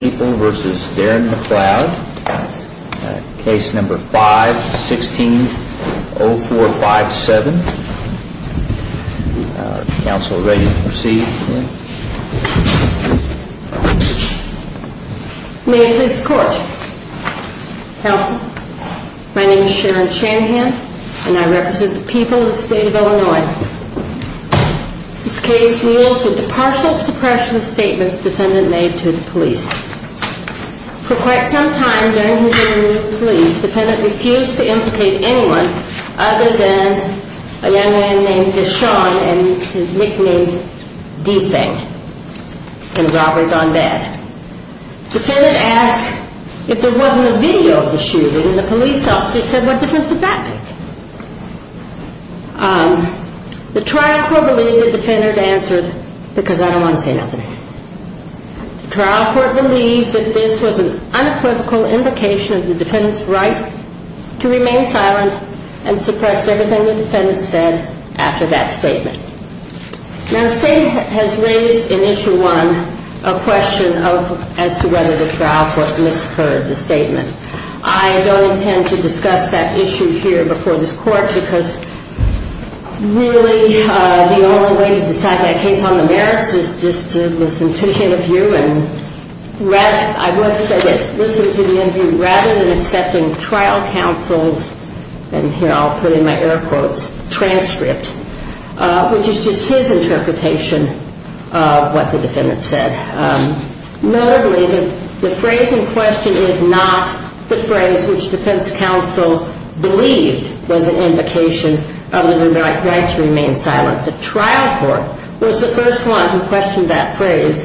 People v. Darren McCloud. Case number 516-0457. Counsel, are you ready to proceed? May it please the Court. Counsel, my name is Sharon Shanahan and I represent the people of the state of Illinois. This case deals with the partial suppression statements defendant made to the police. For quite some time during his interview with the police, defendant refused to implicate anyone other than a young man named Deshawn and his nickname D-Fang, and robbery gone bad. Defendant asked if there wasn't a video of the shooting and the police officer said, what difference would that make? The trial court believed the defendant answered, because I don't want to say nothing. The trial court believed that this was an unequivocal indication of the defendant's right to remain silent and suppress everything the defendant said after that statement. Now the State has raised in Issue 1 a question as to whether the trial court misheard the statement. I don't intend to discuss that issue here before this Court, because really the only way to decide that case on the merits is just to listen to the interview and I would say listen to the interview rather than accepting trial counsel's, and here I'll put in my air quotes, transcript. Which is just his interpretation of what the defendant said. Notably, the phrase in question is not the phrase which defense counsel believed was an indication of the right to remain silent. The trial court was the first one who questioned that phrase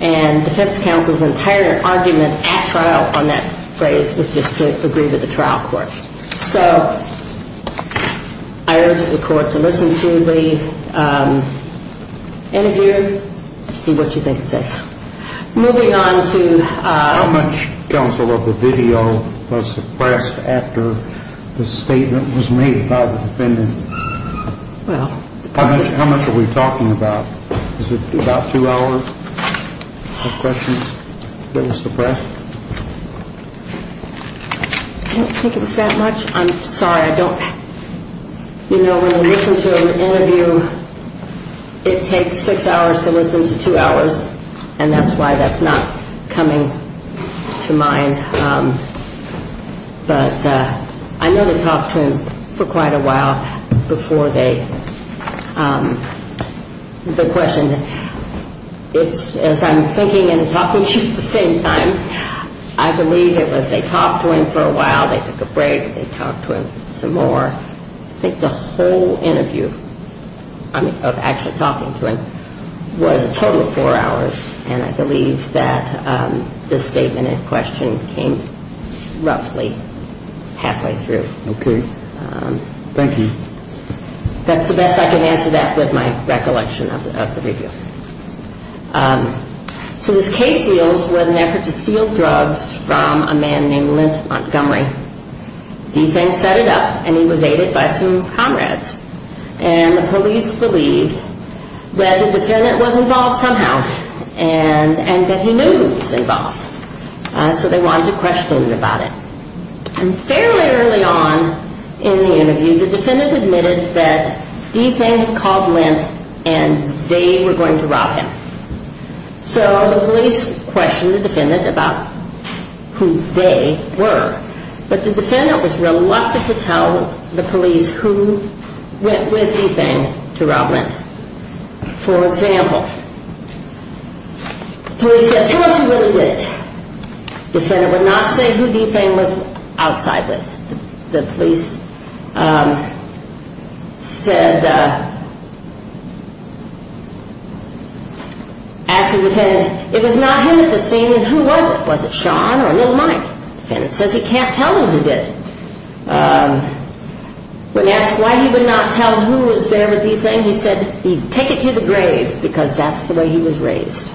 and defense counsel's entire argument at trial on that phrase was just to agree with the trial court. So I urge the Court to listen to the interview and see what you think it says. Moving on to... How much counsel of the video was suppressed after the statement was made by the defendant? Well... How much are we talking about? Is it about two hours of questions that was suppressed? I don't think it was that much. I'm sorry, I don't... You know, when I listen to an interview, it takes six hours to listen to two hours, and that's why that's not coming to mind. But I know they talked to him for quite a while before they... As I'm thinking and talking to you at the same time, I believe it was they talked to him for a while, they took a break, they talked to him some more. I think the whole interview of actually talking to him was a total of four hours. And I believe that this statement in question came roughly halfway through. Okay. Thank you. That's the best I can answer that with my recollection of the video. So this case deals with an effort to steal drugs from a man named Lint Montgomery. D-Thing set it up, and he was aided by some comrades. And the police believed that the defendant was involved somehow, and that he knew he was involved. So they wanted to question him about it. And fairly early on in the interview, the defendant admitted that D-Thing had called Lint and they were going to rob him. So the police questioned the defendant about who they were. But the defendant was reluctant to tell the police who went with D-Thing to rob Lint. For example, the police said, tell us who really did it. The defendant would not say who D-Thing was outside with. The police said, asked the defendant, it was not him at the scene, then who was it? Was it Sean or Little Mike? The defendant says he can't tell me who did it. When asked why he would not tell who was there with D-Thing, he said he'd take it to the grave because that's the way he was raised.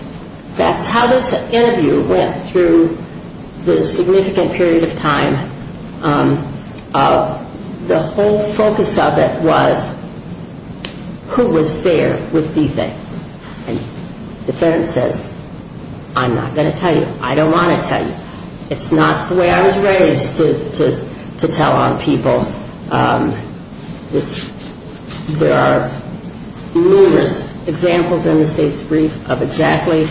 That's how this interview went through this significant period of time. The whole focus of it was who was there with D-Thing. And the defendant says, I'm not going to tell you. I don't want to tell you. It's not the way I was raised to tell on people. There are numerous examples in the state's brief of exactly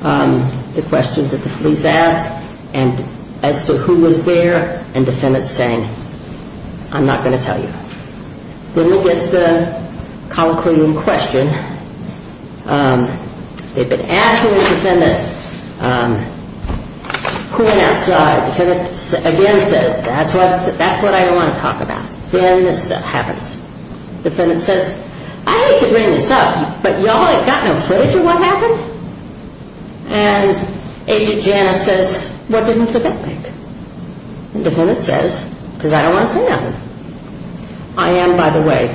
the questions that the police ask as to who was there. And the defendant's saying, I'm not going to tell you. Then we get to the colloquium question. They've been asking the defendant who went outside. The defendant again says, that's what I don't want to talk about. Then this happens. The defendant says, I hate to bring this up, but y'all have got no footage of what happened? And Agent Janice says, what didn't the bit make? And the defendant says, because I don't want to say nothing. I am, by the way,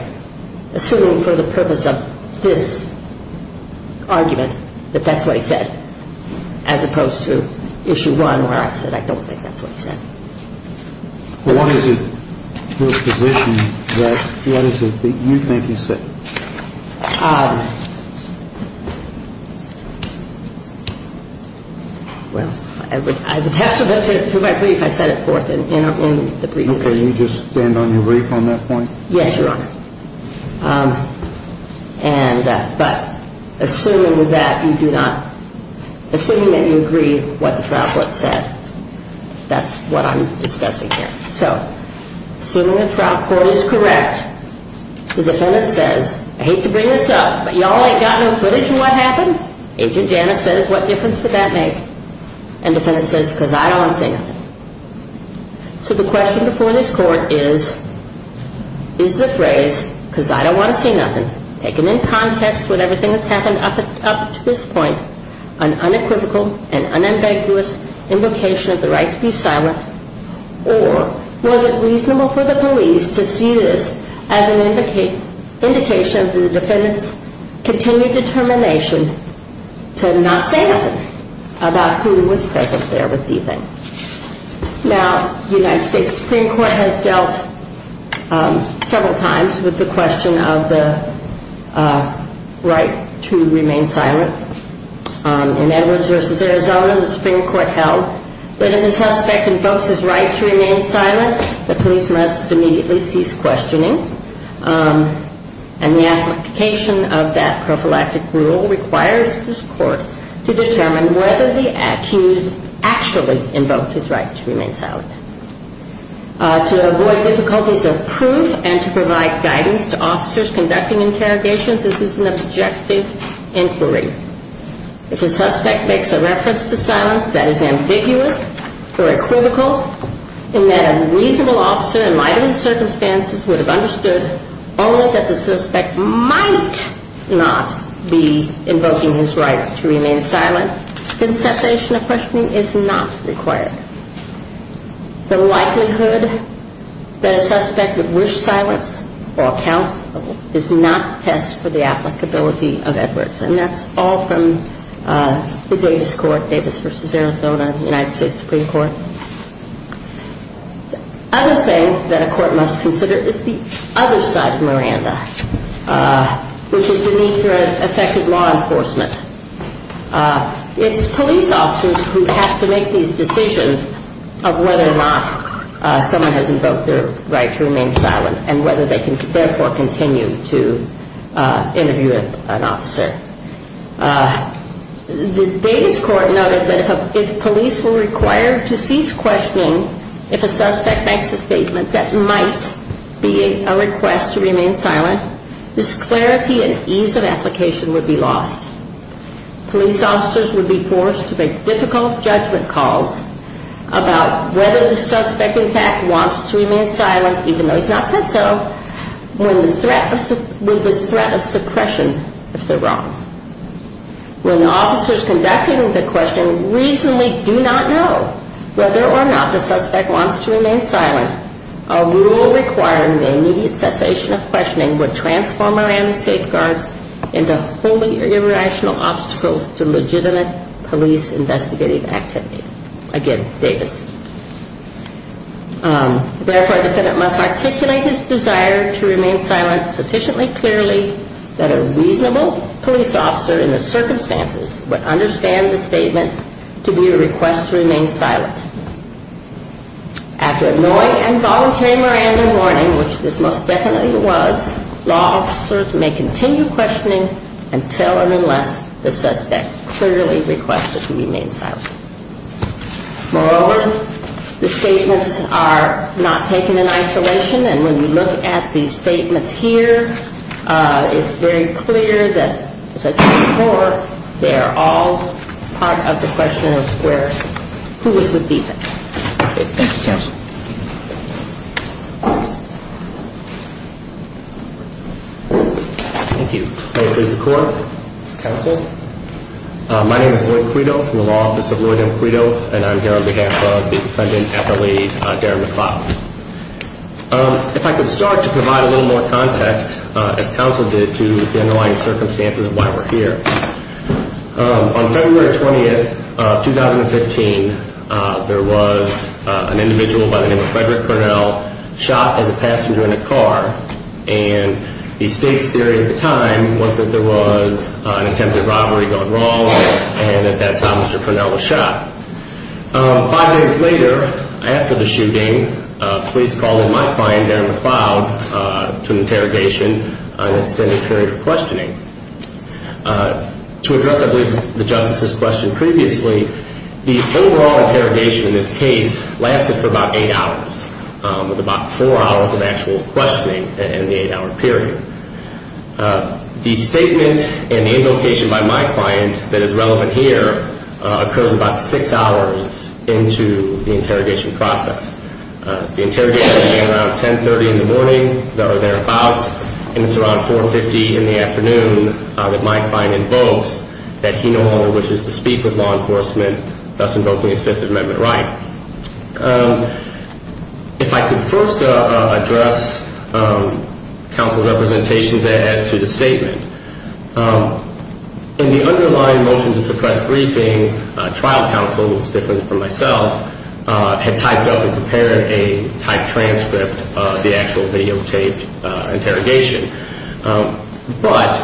assuming for the purpose of this argument that that's what he said, as opposed to Issue 1 where I said I don't think that's what he said. Well, what is it, your position, what is it that you think he said? Well, I would have to look through my brief. I set it forth in the brief. Okay. You just stand on your brief on that point? Yes, Your Honor. But assuming that you agree with what the trial court said, that's what I'm discussing here. So assuming the trial court is correct, the defendant says, I hate to bring this up, but y'all have got no footage of what happened? Agent Janice says, what difference did that make? And the defendant says, because I don't want to say nothing. So the question before this court is, is the phrase, because I don't want to say nothing, taken in context with everything that's happened up to this point, an unequivocal and unambiguous invocation of the right to be silent, or was it reasonable for the police to see this as an indication for the defendant's continued determination to not say nothing about who was present there with the defendant? Now, the United States Supreme Court has dealt several times with the question of the right to remain silent. In Edwards v. Arizona, the Supreme Court held that if the suspect invokes his right to remain silent, the police must immediately cease questioning, and the application of that prophylactic rule requires this court to determine whether the accused actually invoked his right to remain silent. To avoid difficulties of proof and to provide guidance to officers conducting interrogations, this is an objective inquiry. If a suspect makes a reference to silence that is ambiguous or equivocal, in that a reasonable officer in my circumstances would have understood only that the suspect might not be invoking his right to remain silent, then cessation of questioning is not required. The likelihood that a suspect would wish silence or account is not a test for the applicability of Edwards. And that's all from the Davis Court, Davis v. Arizona, United States Supreme Court. The other thing that a court must consider is the other side of Miranda, which is the need for effective law enforcement. It's police officers who have to make these decisions of whether or not someone has invoked their right to remain silent and whether they can therefore continue to interview an officer. The Davis Court noted that if police were required to cease questioning if a suspect makes a statement that might be a request to remain silent, this clarity and ease of application would be lost. Police officers would be forced to make difficult judgment calls about whether the suspect, in fact, wants to remain silent, even though he's not said so, with the threat of suppression if they're wrong. When officers conducting the questioning reasonably do not know whether or not the suspect wants to remain silent, a rule requiring the immediate cessation of questioning would transform Miranda's safeguards into wholly irrational obstacles to legitimate police investigative activity. Again, Davis. Therefore, a defendant must articulate his desire to remain silent sufficiently clearly that a reasonable police officer in the circumstances would understand the statement to be a request to remain silent. After a knowing and voluntary Miranda warning, which this most definitely was, law officers may continue questioning until and unless the suspect clearly requests that he remain silent. Moreover, the statements are not taken in isolation. And when you look at the statements here, it's very clear that, as I said before, they are all part of the question of where, who is the defendant. Thank you, Counsel. Thank you. May it please the Court. Counsel. My name is Lloyd Credo from the Law Office of Lloyd M. Credo, and I'm here on behalf of the defendant, Appellee Darren McLeod. If I could start to provide a little more context, as Counsel did, to the underlying circumstances of why we're here. On February 20th, 2015, there was an individual by the name of Frederick Purnell shot as a passenger in a car, and the state's theory at the time was that there was an attempted robbery going wrong and that that's how Mr. Purnell was shot. Five days later, after the shooting, police called in my client, Darren McLeod, to an interrogation on an extended period of questioning. To address, I believe, the Justice's question previously, the overall interrogation in this case lasted for about eight hours, with about four hours of actual questioning in the eight-hour period. The statement and the invocation by my client that is relevant here occurs about six hours into the interrogation process. The interrogation began around 10.30 in the morning, or thereabouts, and it's around 4.50 in the afternoon that my client invokes that he no longer wishes to speak with law enforcement, thus invoking his Fifth Amendment right. If I could first address Counsel's representations as to the statement. In the underlying motion to suppress briefing, trial counsel, who was different from myself, had typed up and prepared a typed transcript of the actual videotaped interrogation. But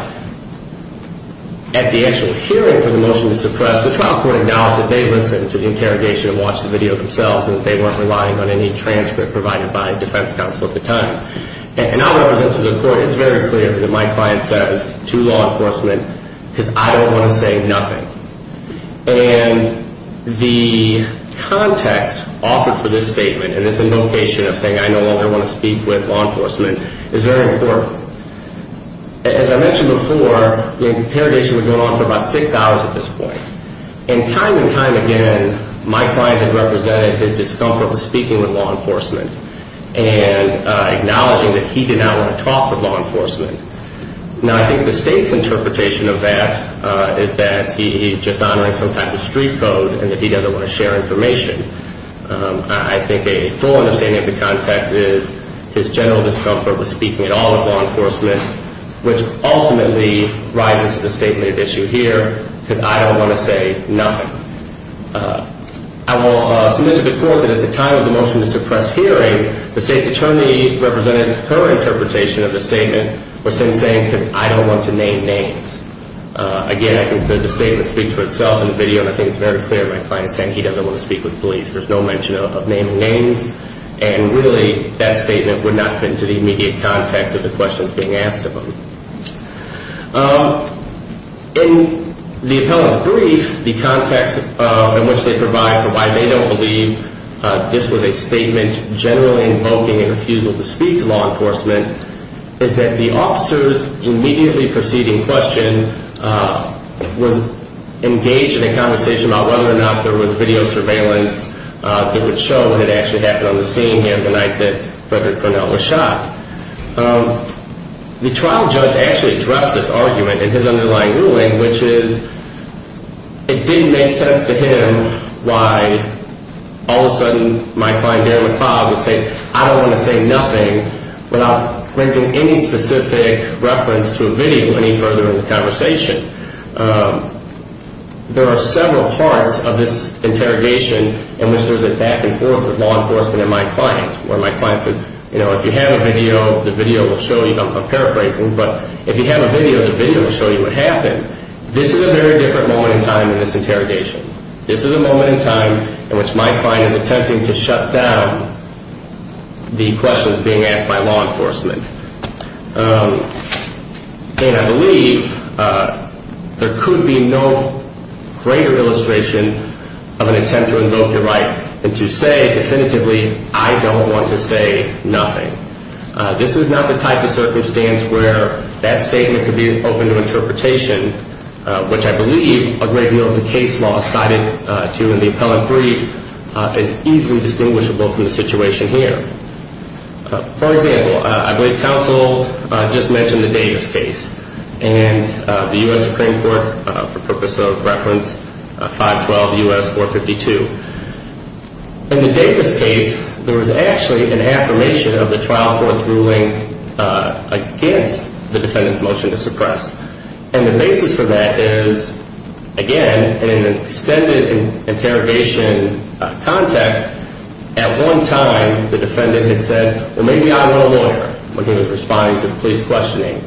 at the actual hearing for the motion to suppress, the trial court acknowledged that they listened to the interrogation and watched the video themselves and that they weren't relying on any transcript provided by defense counsel at the time. And I'll represent to the court, it's very clear that my client says to law enforcement, because I don't want to say nothing. And the context offered for this statement and this invocation of saying I no longer want to speak with law enforcement is very important. As I mentioned before, the interrogation would go on for about six hours at this point. And time and time again, my client has represented his discomfort with speaking with law enforcement and acknowledging that he did not want to talk with law enforcement. Now, I think the state's interpretation of that is that he's just honoring some type of street code and that he doesn't want to share information. I think a full understanding of the context is his general discomfort with speaking at all with law enforcement, which ultimately rises to the statement at issue here, because I don't want to say nothing. I will submit to the court that at the time of the motion to suppress hearing, the state's attorney represented her interpretation of the statement was him saying, because I don't want to name names. Again, I think the statement speaks for itself in the video, and I think it's very clear my client is saying he doesn't want to speak with police. There's no mention of naming names. And really, that statement would not fit into the immediate context of the questions being asked of him. In the appellant's brief, the context in which they provide for why they don't believe this was a statement generally invoking a refusal to speak to law enforcement is that the officer's immediately preceding question was engaged in a conversation about whether or not there was video surveillance. It would show what had actually happened on the scene here the night that Frederick Cornell was shot. The trial judge actually addressed this argument in his underlying ruling, which is it didn't make sense to him why all of a sudden my client, Darren McLeod, would say, I don't want to say nothing without raising any specific reference to a video any further in the conversation. There are several parts of this interrogation in which there's a back and forth with law enforcement and my client, where my client said, you know, if you have a video, the video will show you, I'm paraphrasing, but if you have a video, the video will show you what happened. This is a very different moment in time in this interrogation. This is a moment in time in which my client is attempting to shut down the questions being asked by law enforcement. And I believe there could be no greater illustration of an attempt to invoke your right than to say definitively, I don't want to say nothing. This is not the type of circumstance where that statement could be open to interpretation, which I believe a great deal of the case law cited to in the appellate brief is easily distinguishable from the situation here. For example, I believe counsel just mentioned the Davis case and the U.S. Supreme Court, for purpose of reference, 512 U.S. 452. In the Davis case, there was actually an affirmation of the trial court's ruling against the defendant's motion to suppress. And the basis for that is, again, in an extended interrogation context, at one time the defendant had said, well, maybe I want a lawyer when he was responding to the police questioning.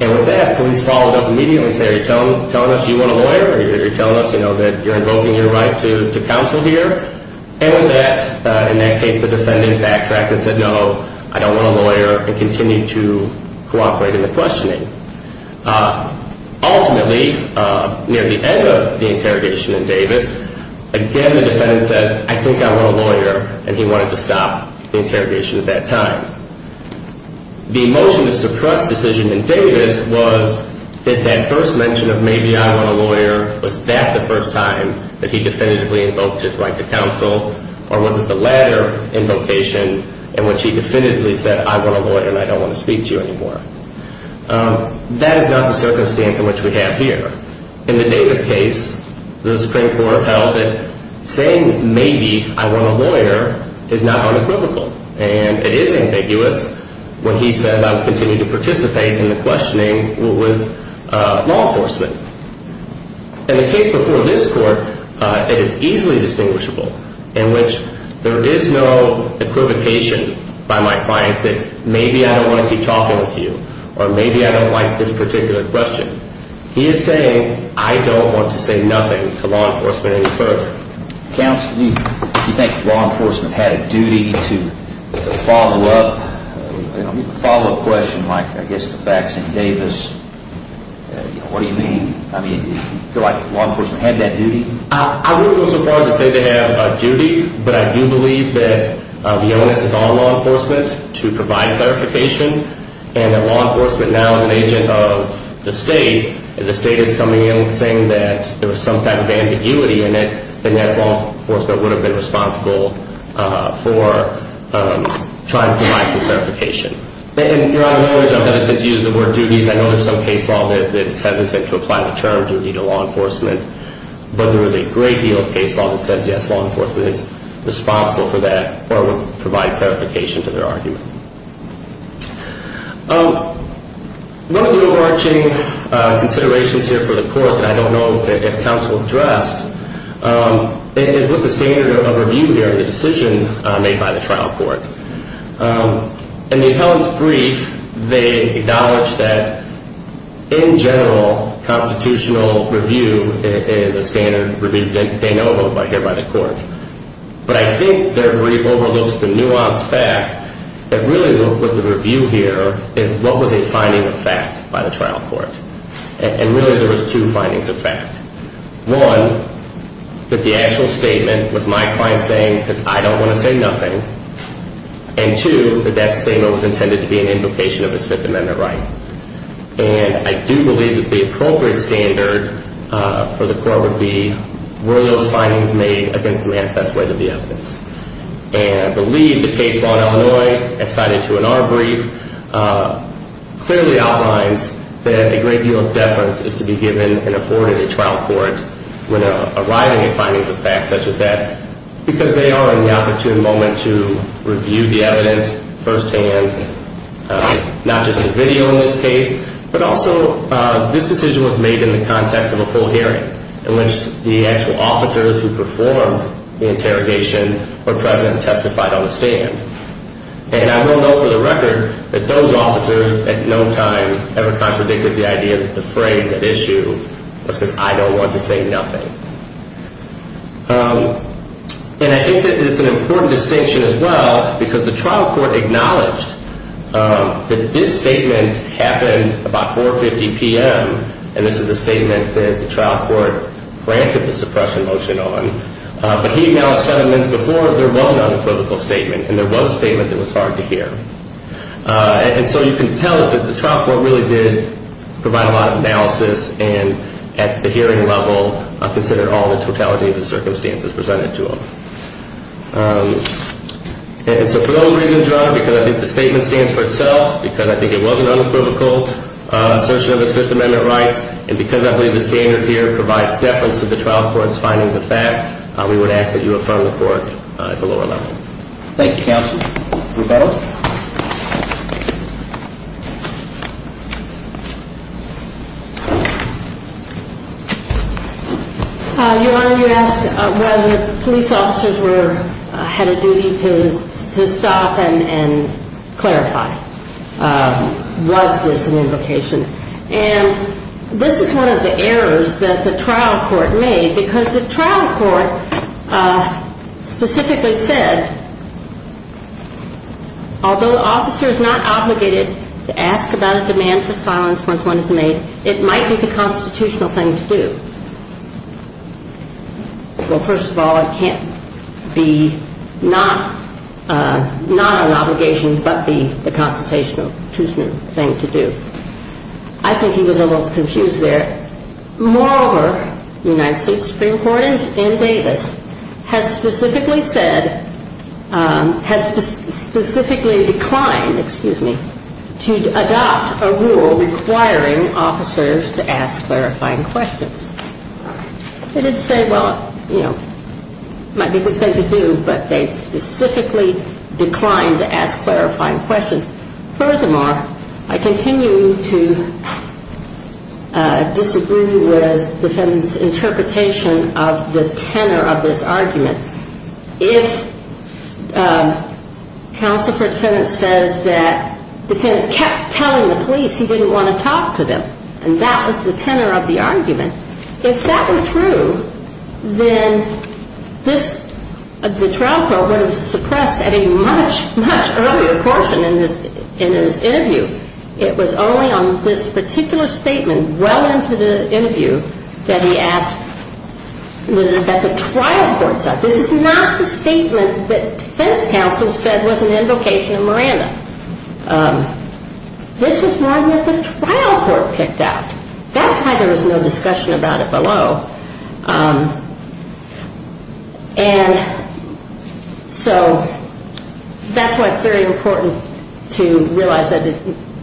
And with that, police followed up immediately and said, are you telling us you want a lawyer? Are you telling us that you're invoking your right to counsel here? And in that case, the defendant backtracked and said, no, I don't want a lawyer, and continued to cooperate in the questioning. Ultimately, near the end of the interrogation in Davis, again, the defendant says, I think I want a lawyer, and he wanted to stop the interrogation at that time. The motion to suppress decision in Davis was that that first mention of maybe I want a lawyer, was that the first time that he definitively invoked his right to counsel, or was it the latter invocation in which he definitively said, I want a lawyer and I don't want to speak to you anymore? That is not the circumstance in which we have here. In the Davis case, the Supreme Court held that saying maybe I want a lawyer is not unequivocal, and it is ambiguous when he said I would continue to participate in the questioning with law enforcement. In the case before this court, it is easily distinguishable, in which there is no equivocation by my client that maybe I don't want to keep talking with you, or maybe I don't like this particular question. He is saying I don't want to say nothing to law enforcement any further. Counsel, do you think law enforcement had a duty to follow up, follow a question like I guess the facts in Davis? What do you mean? Do you feel like law enforcement had that duty? I wouldn't go so far as to say they have a duty, but I do believe that the onus is on law enforcement to provide clarification, and that law enforcement now is an agent of the state, and the state is coming in saying that there was some type of ambiguity in it, and yes, law enforcement would have been responsible for trying to provide some clarification. You're out of order, so I'm going to just use the word duties. I know there is some case law that is hesitant to apply the term duty to law enforcement, but there is a great deal of case law that says yes, law enforcement is responsible for that or would provide clarification to their argument. One of the overarching considerations here for the court, and I don't know if counsel addressed, is what the standard of review here of the decision made by the trial court. In the appellant's brief, they acknowledged that in general, constitutional review is a standard review that they know about here by the court, but I think their brief overlooks the nuanced fact that really what the review here is, what was a finding of fact by the trial court, and really there was two findings of fact. One, that the actual statement was my client saying, because I don't want to say nothing, and two, that that statement was intended to be an invocation of his Fifth Amendment rights, and I do believe that the appropriate standard for the court would be, were those findings made against the manifest way of the evidence. And I believe the case law in Illinois, as cited to in our brief, clearly outlines that a great deal of deference is to be given and afforded at trial court when arriving at findings of fact such as that, because they are in the opportune moment to review the evidence firsthand, not just in video in this case, but also this decision was made in the context of a full hearing in which the actual officers who performed the interrogation were present and testified on the stand. And I will note for the record that those officers at no time ever contradicted the idea that the phrase at issue was because I don't want to say nothing. And I think that it's an important distinction as well, because the trial court acknowledged that this statement happened about 4.50 p.m., and this is the statement that the trial court granted the suppression motion on, but he now said a month before there wasn't a critical statement, and there was a statement that was hard to hear. And so you can tell that the trial court really did provide a lot of analysis and at the hearing level considered all the totality of the circumstances presented to him. And so for those reasons, Your Honor, because I think the statement stands for itself, because I think it was an unequivocal assertion of its Fifth Amendment rights, and because I believe the standard here provides deference to the trial court's findings of fact, we would ask that you affirm the court at the lower level. Thank you, counsel. Rebuttal. Your Honor, you asked whether police officers had a duty to stop and clarify. Was this an invocation? And this is one of the errors that the trial court made, because the trial court specifically said, although the officer is not obligated to ask about a demand for silence once one is made, it might be the constitutional thing to do. Well, first of all, it can't be not an obligation but be the constitutional thing to do. I think he was a little confused there. Moreover, the United States Supreme Court in Davis has specifically said, has specifically declined, excuse me, to adopt a rule requiring officers to ask clarifying questions. They did say, well, you know, it might be a good thing to do, but they specifically declined to ask clarifying questions. Furthermore, I continue to disagree with defendant's interpretation of the tenor of this argument. If counsel for defendant says that defendant kept telling the police he didn't want to talk to them, and that was the tenor of the argument, if that were true, then the trial court would have suppressed at a much, much earlier portion in his interview. It was only on this particular statement well into the interview that he asked, that the trial court said. This is not the statement that defense counsel said was an invocation of Miranda. This is one that the trial court picked out. That's why there was no discussion about it below. And so that's why it's very important to realize that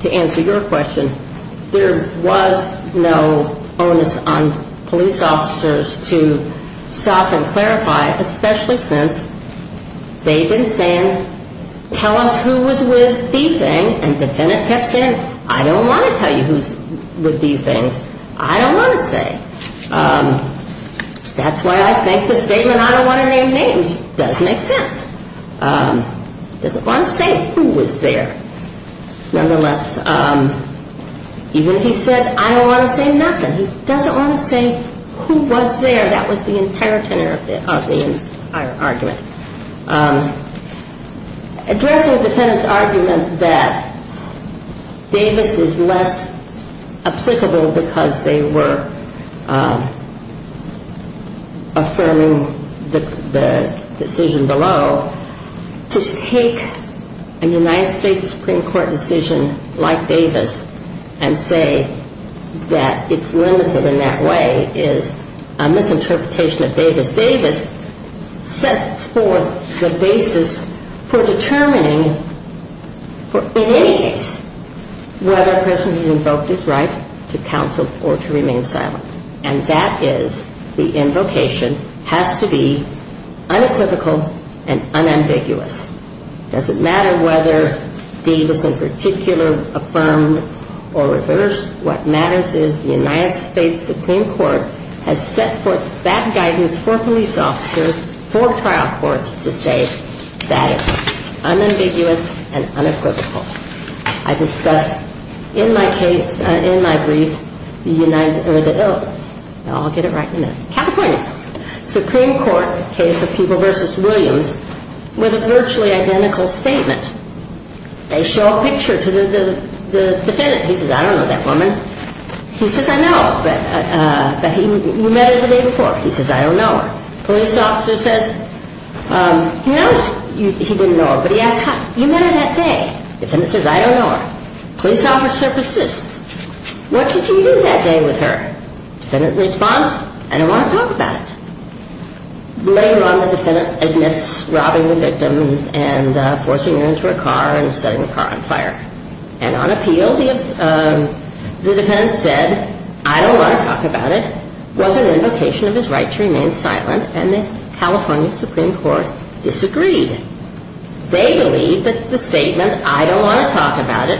to answer your question, there was no onus on police officers to stop and clarify, especially since they've been saying, tell us who was with the thing, and defendant kept saying, I don't want to tell you who's with these things. I don't want to say. That's why I think the statement, I don't want to name names, does make sense. He doesn't want to say who was there. Nonetheless, even if he said, I don't want to say nothing, he doesn't want to say who was there. That was the entire tenor of the argument. Addressing the defendant's argument that Davis is less applicable because they were affirming the decision below, to take a United States Supreme Court decision like Davis and say that it's limited in that way is a misinterpretation of Davis. Davis sets forth the basis for determining, in any case, whether a person has invoked his right to counsel or to remain silent. And that is the invocation has to be unequivocal and unambiguous. It doesn't matter whether Davis in particular affirmed or reversed. What matters is the United States Supreme Court has set forth that guidance for police officers, for trial courts, to say that it's unambiguous and unequivocal. I discussed in my case, in my brief, the United, or the, oh, I'll get it right in a minute, California Supreme Court case of Peeble v. Williams with a virtually identical statement. They show a picture to the defendant. He says, I don't know that woman. He says, I know, but you met her the day before. He says, I don't know her. The police officer says, he didn't know her, but he asked, you met her that day. The defendant says, I don't know her. The police officer persists. What did you do that day with her? The defendant responds, I don't want to talk about it. Later on, the defendant admits robbing the victim and forcing her into a car and setting the car on fire. And on appeal, the defendant said, I don't want to talk about it, was an invocation of his right to remain silent, and the California Supreme Court disagreed. They believe that the statement, I don't want to talk about it,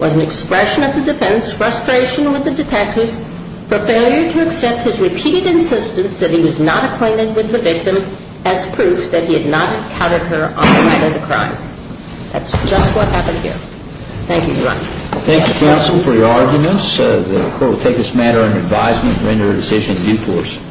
was an expression of the defendant's frustration with the detectives for failure to accept his repeated insistence that he was not acquainted with the victim as proof that he had not encountered her on the night of the crime. That's just what happened here. Thank you, Your Honor. Thank you, counsel, for your arguments. The court will take this matter under advisement and render a decision in due course.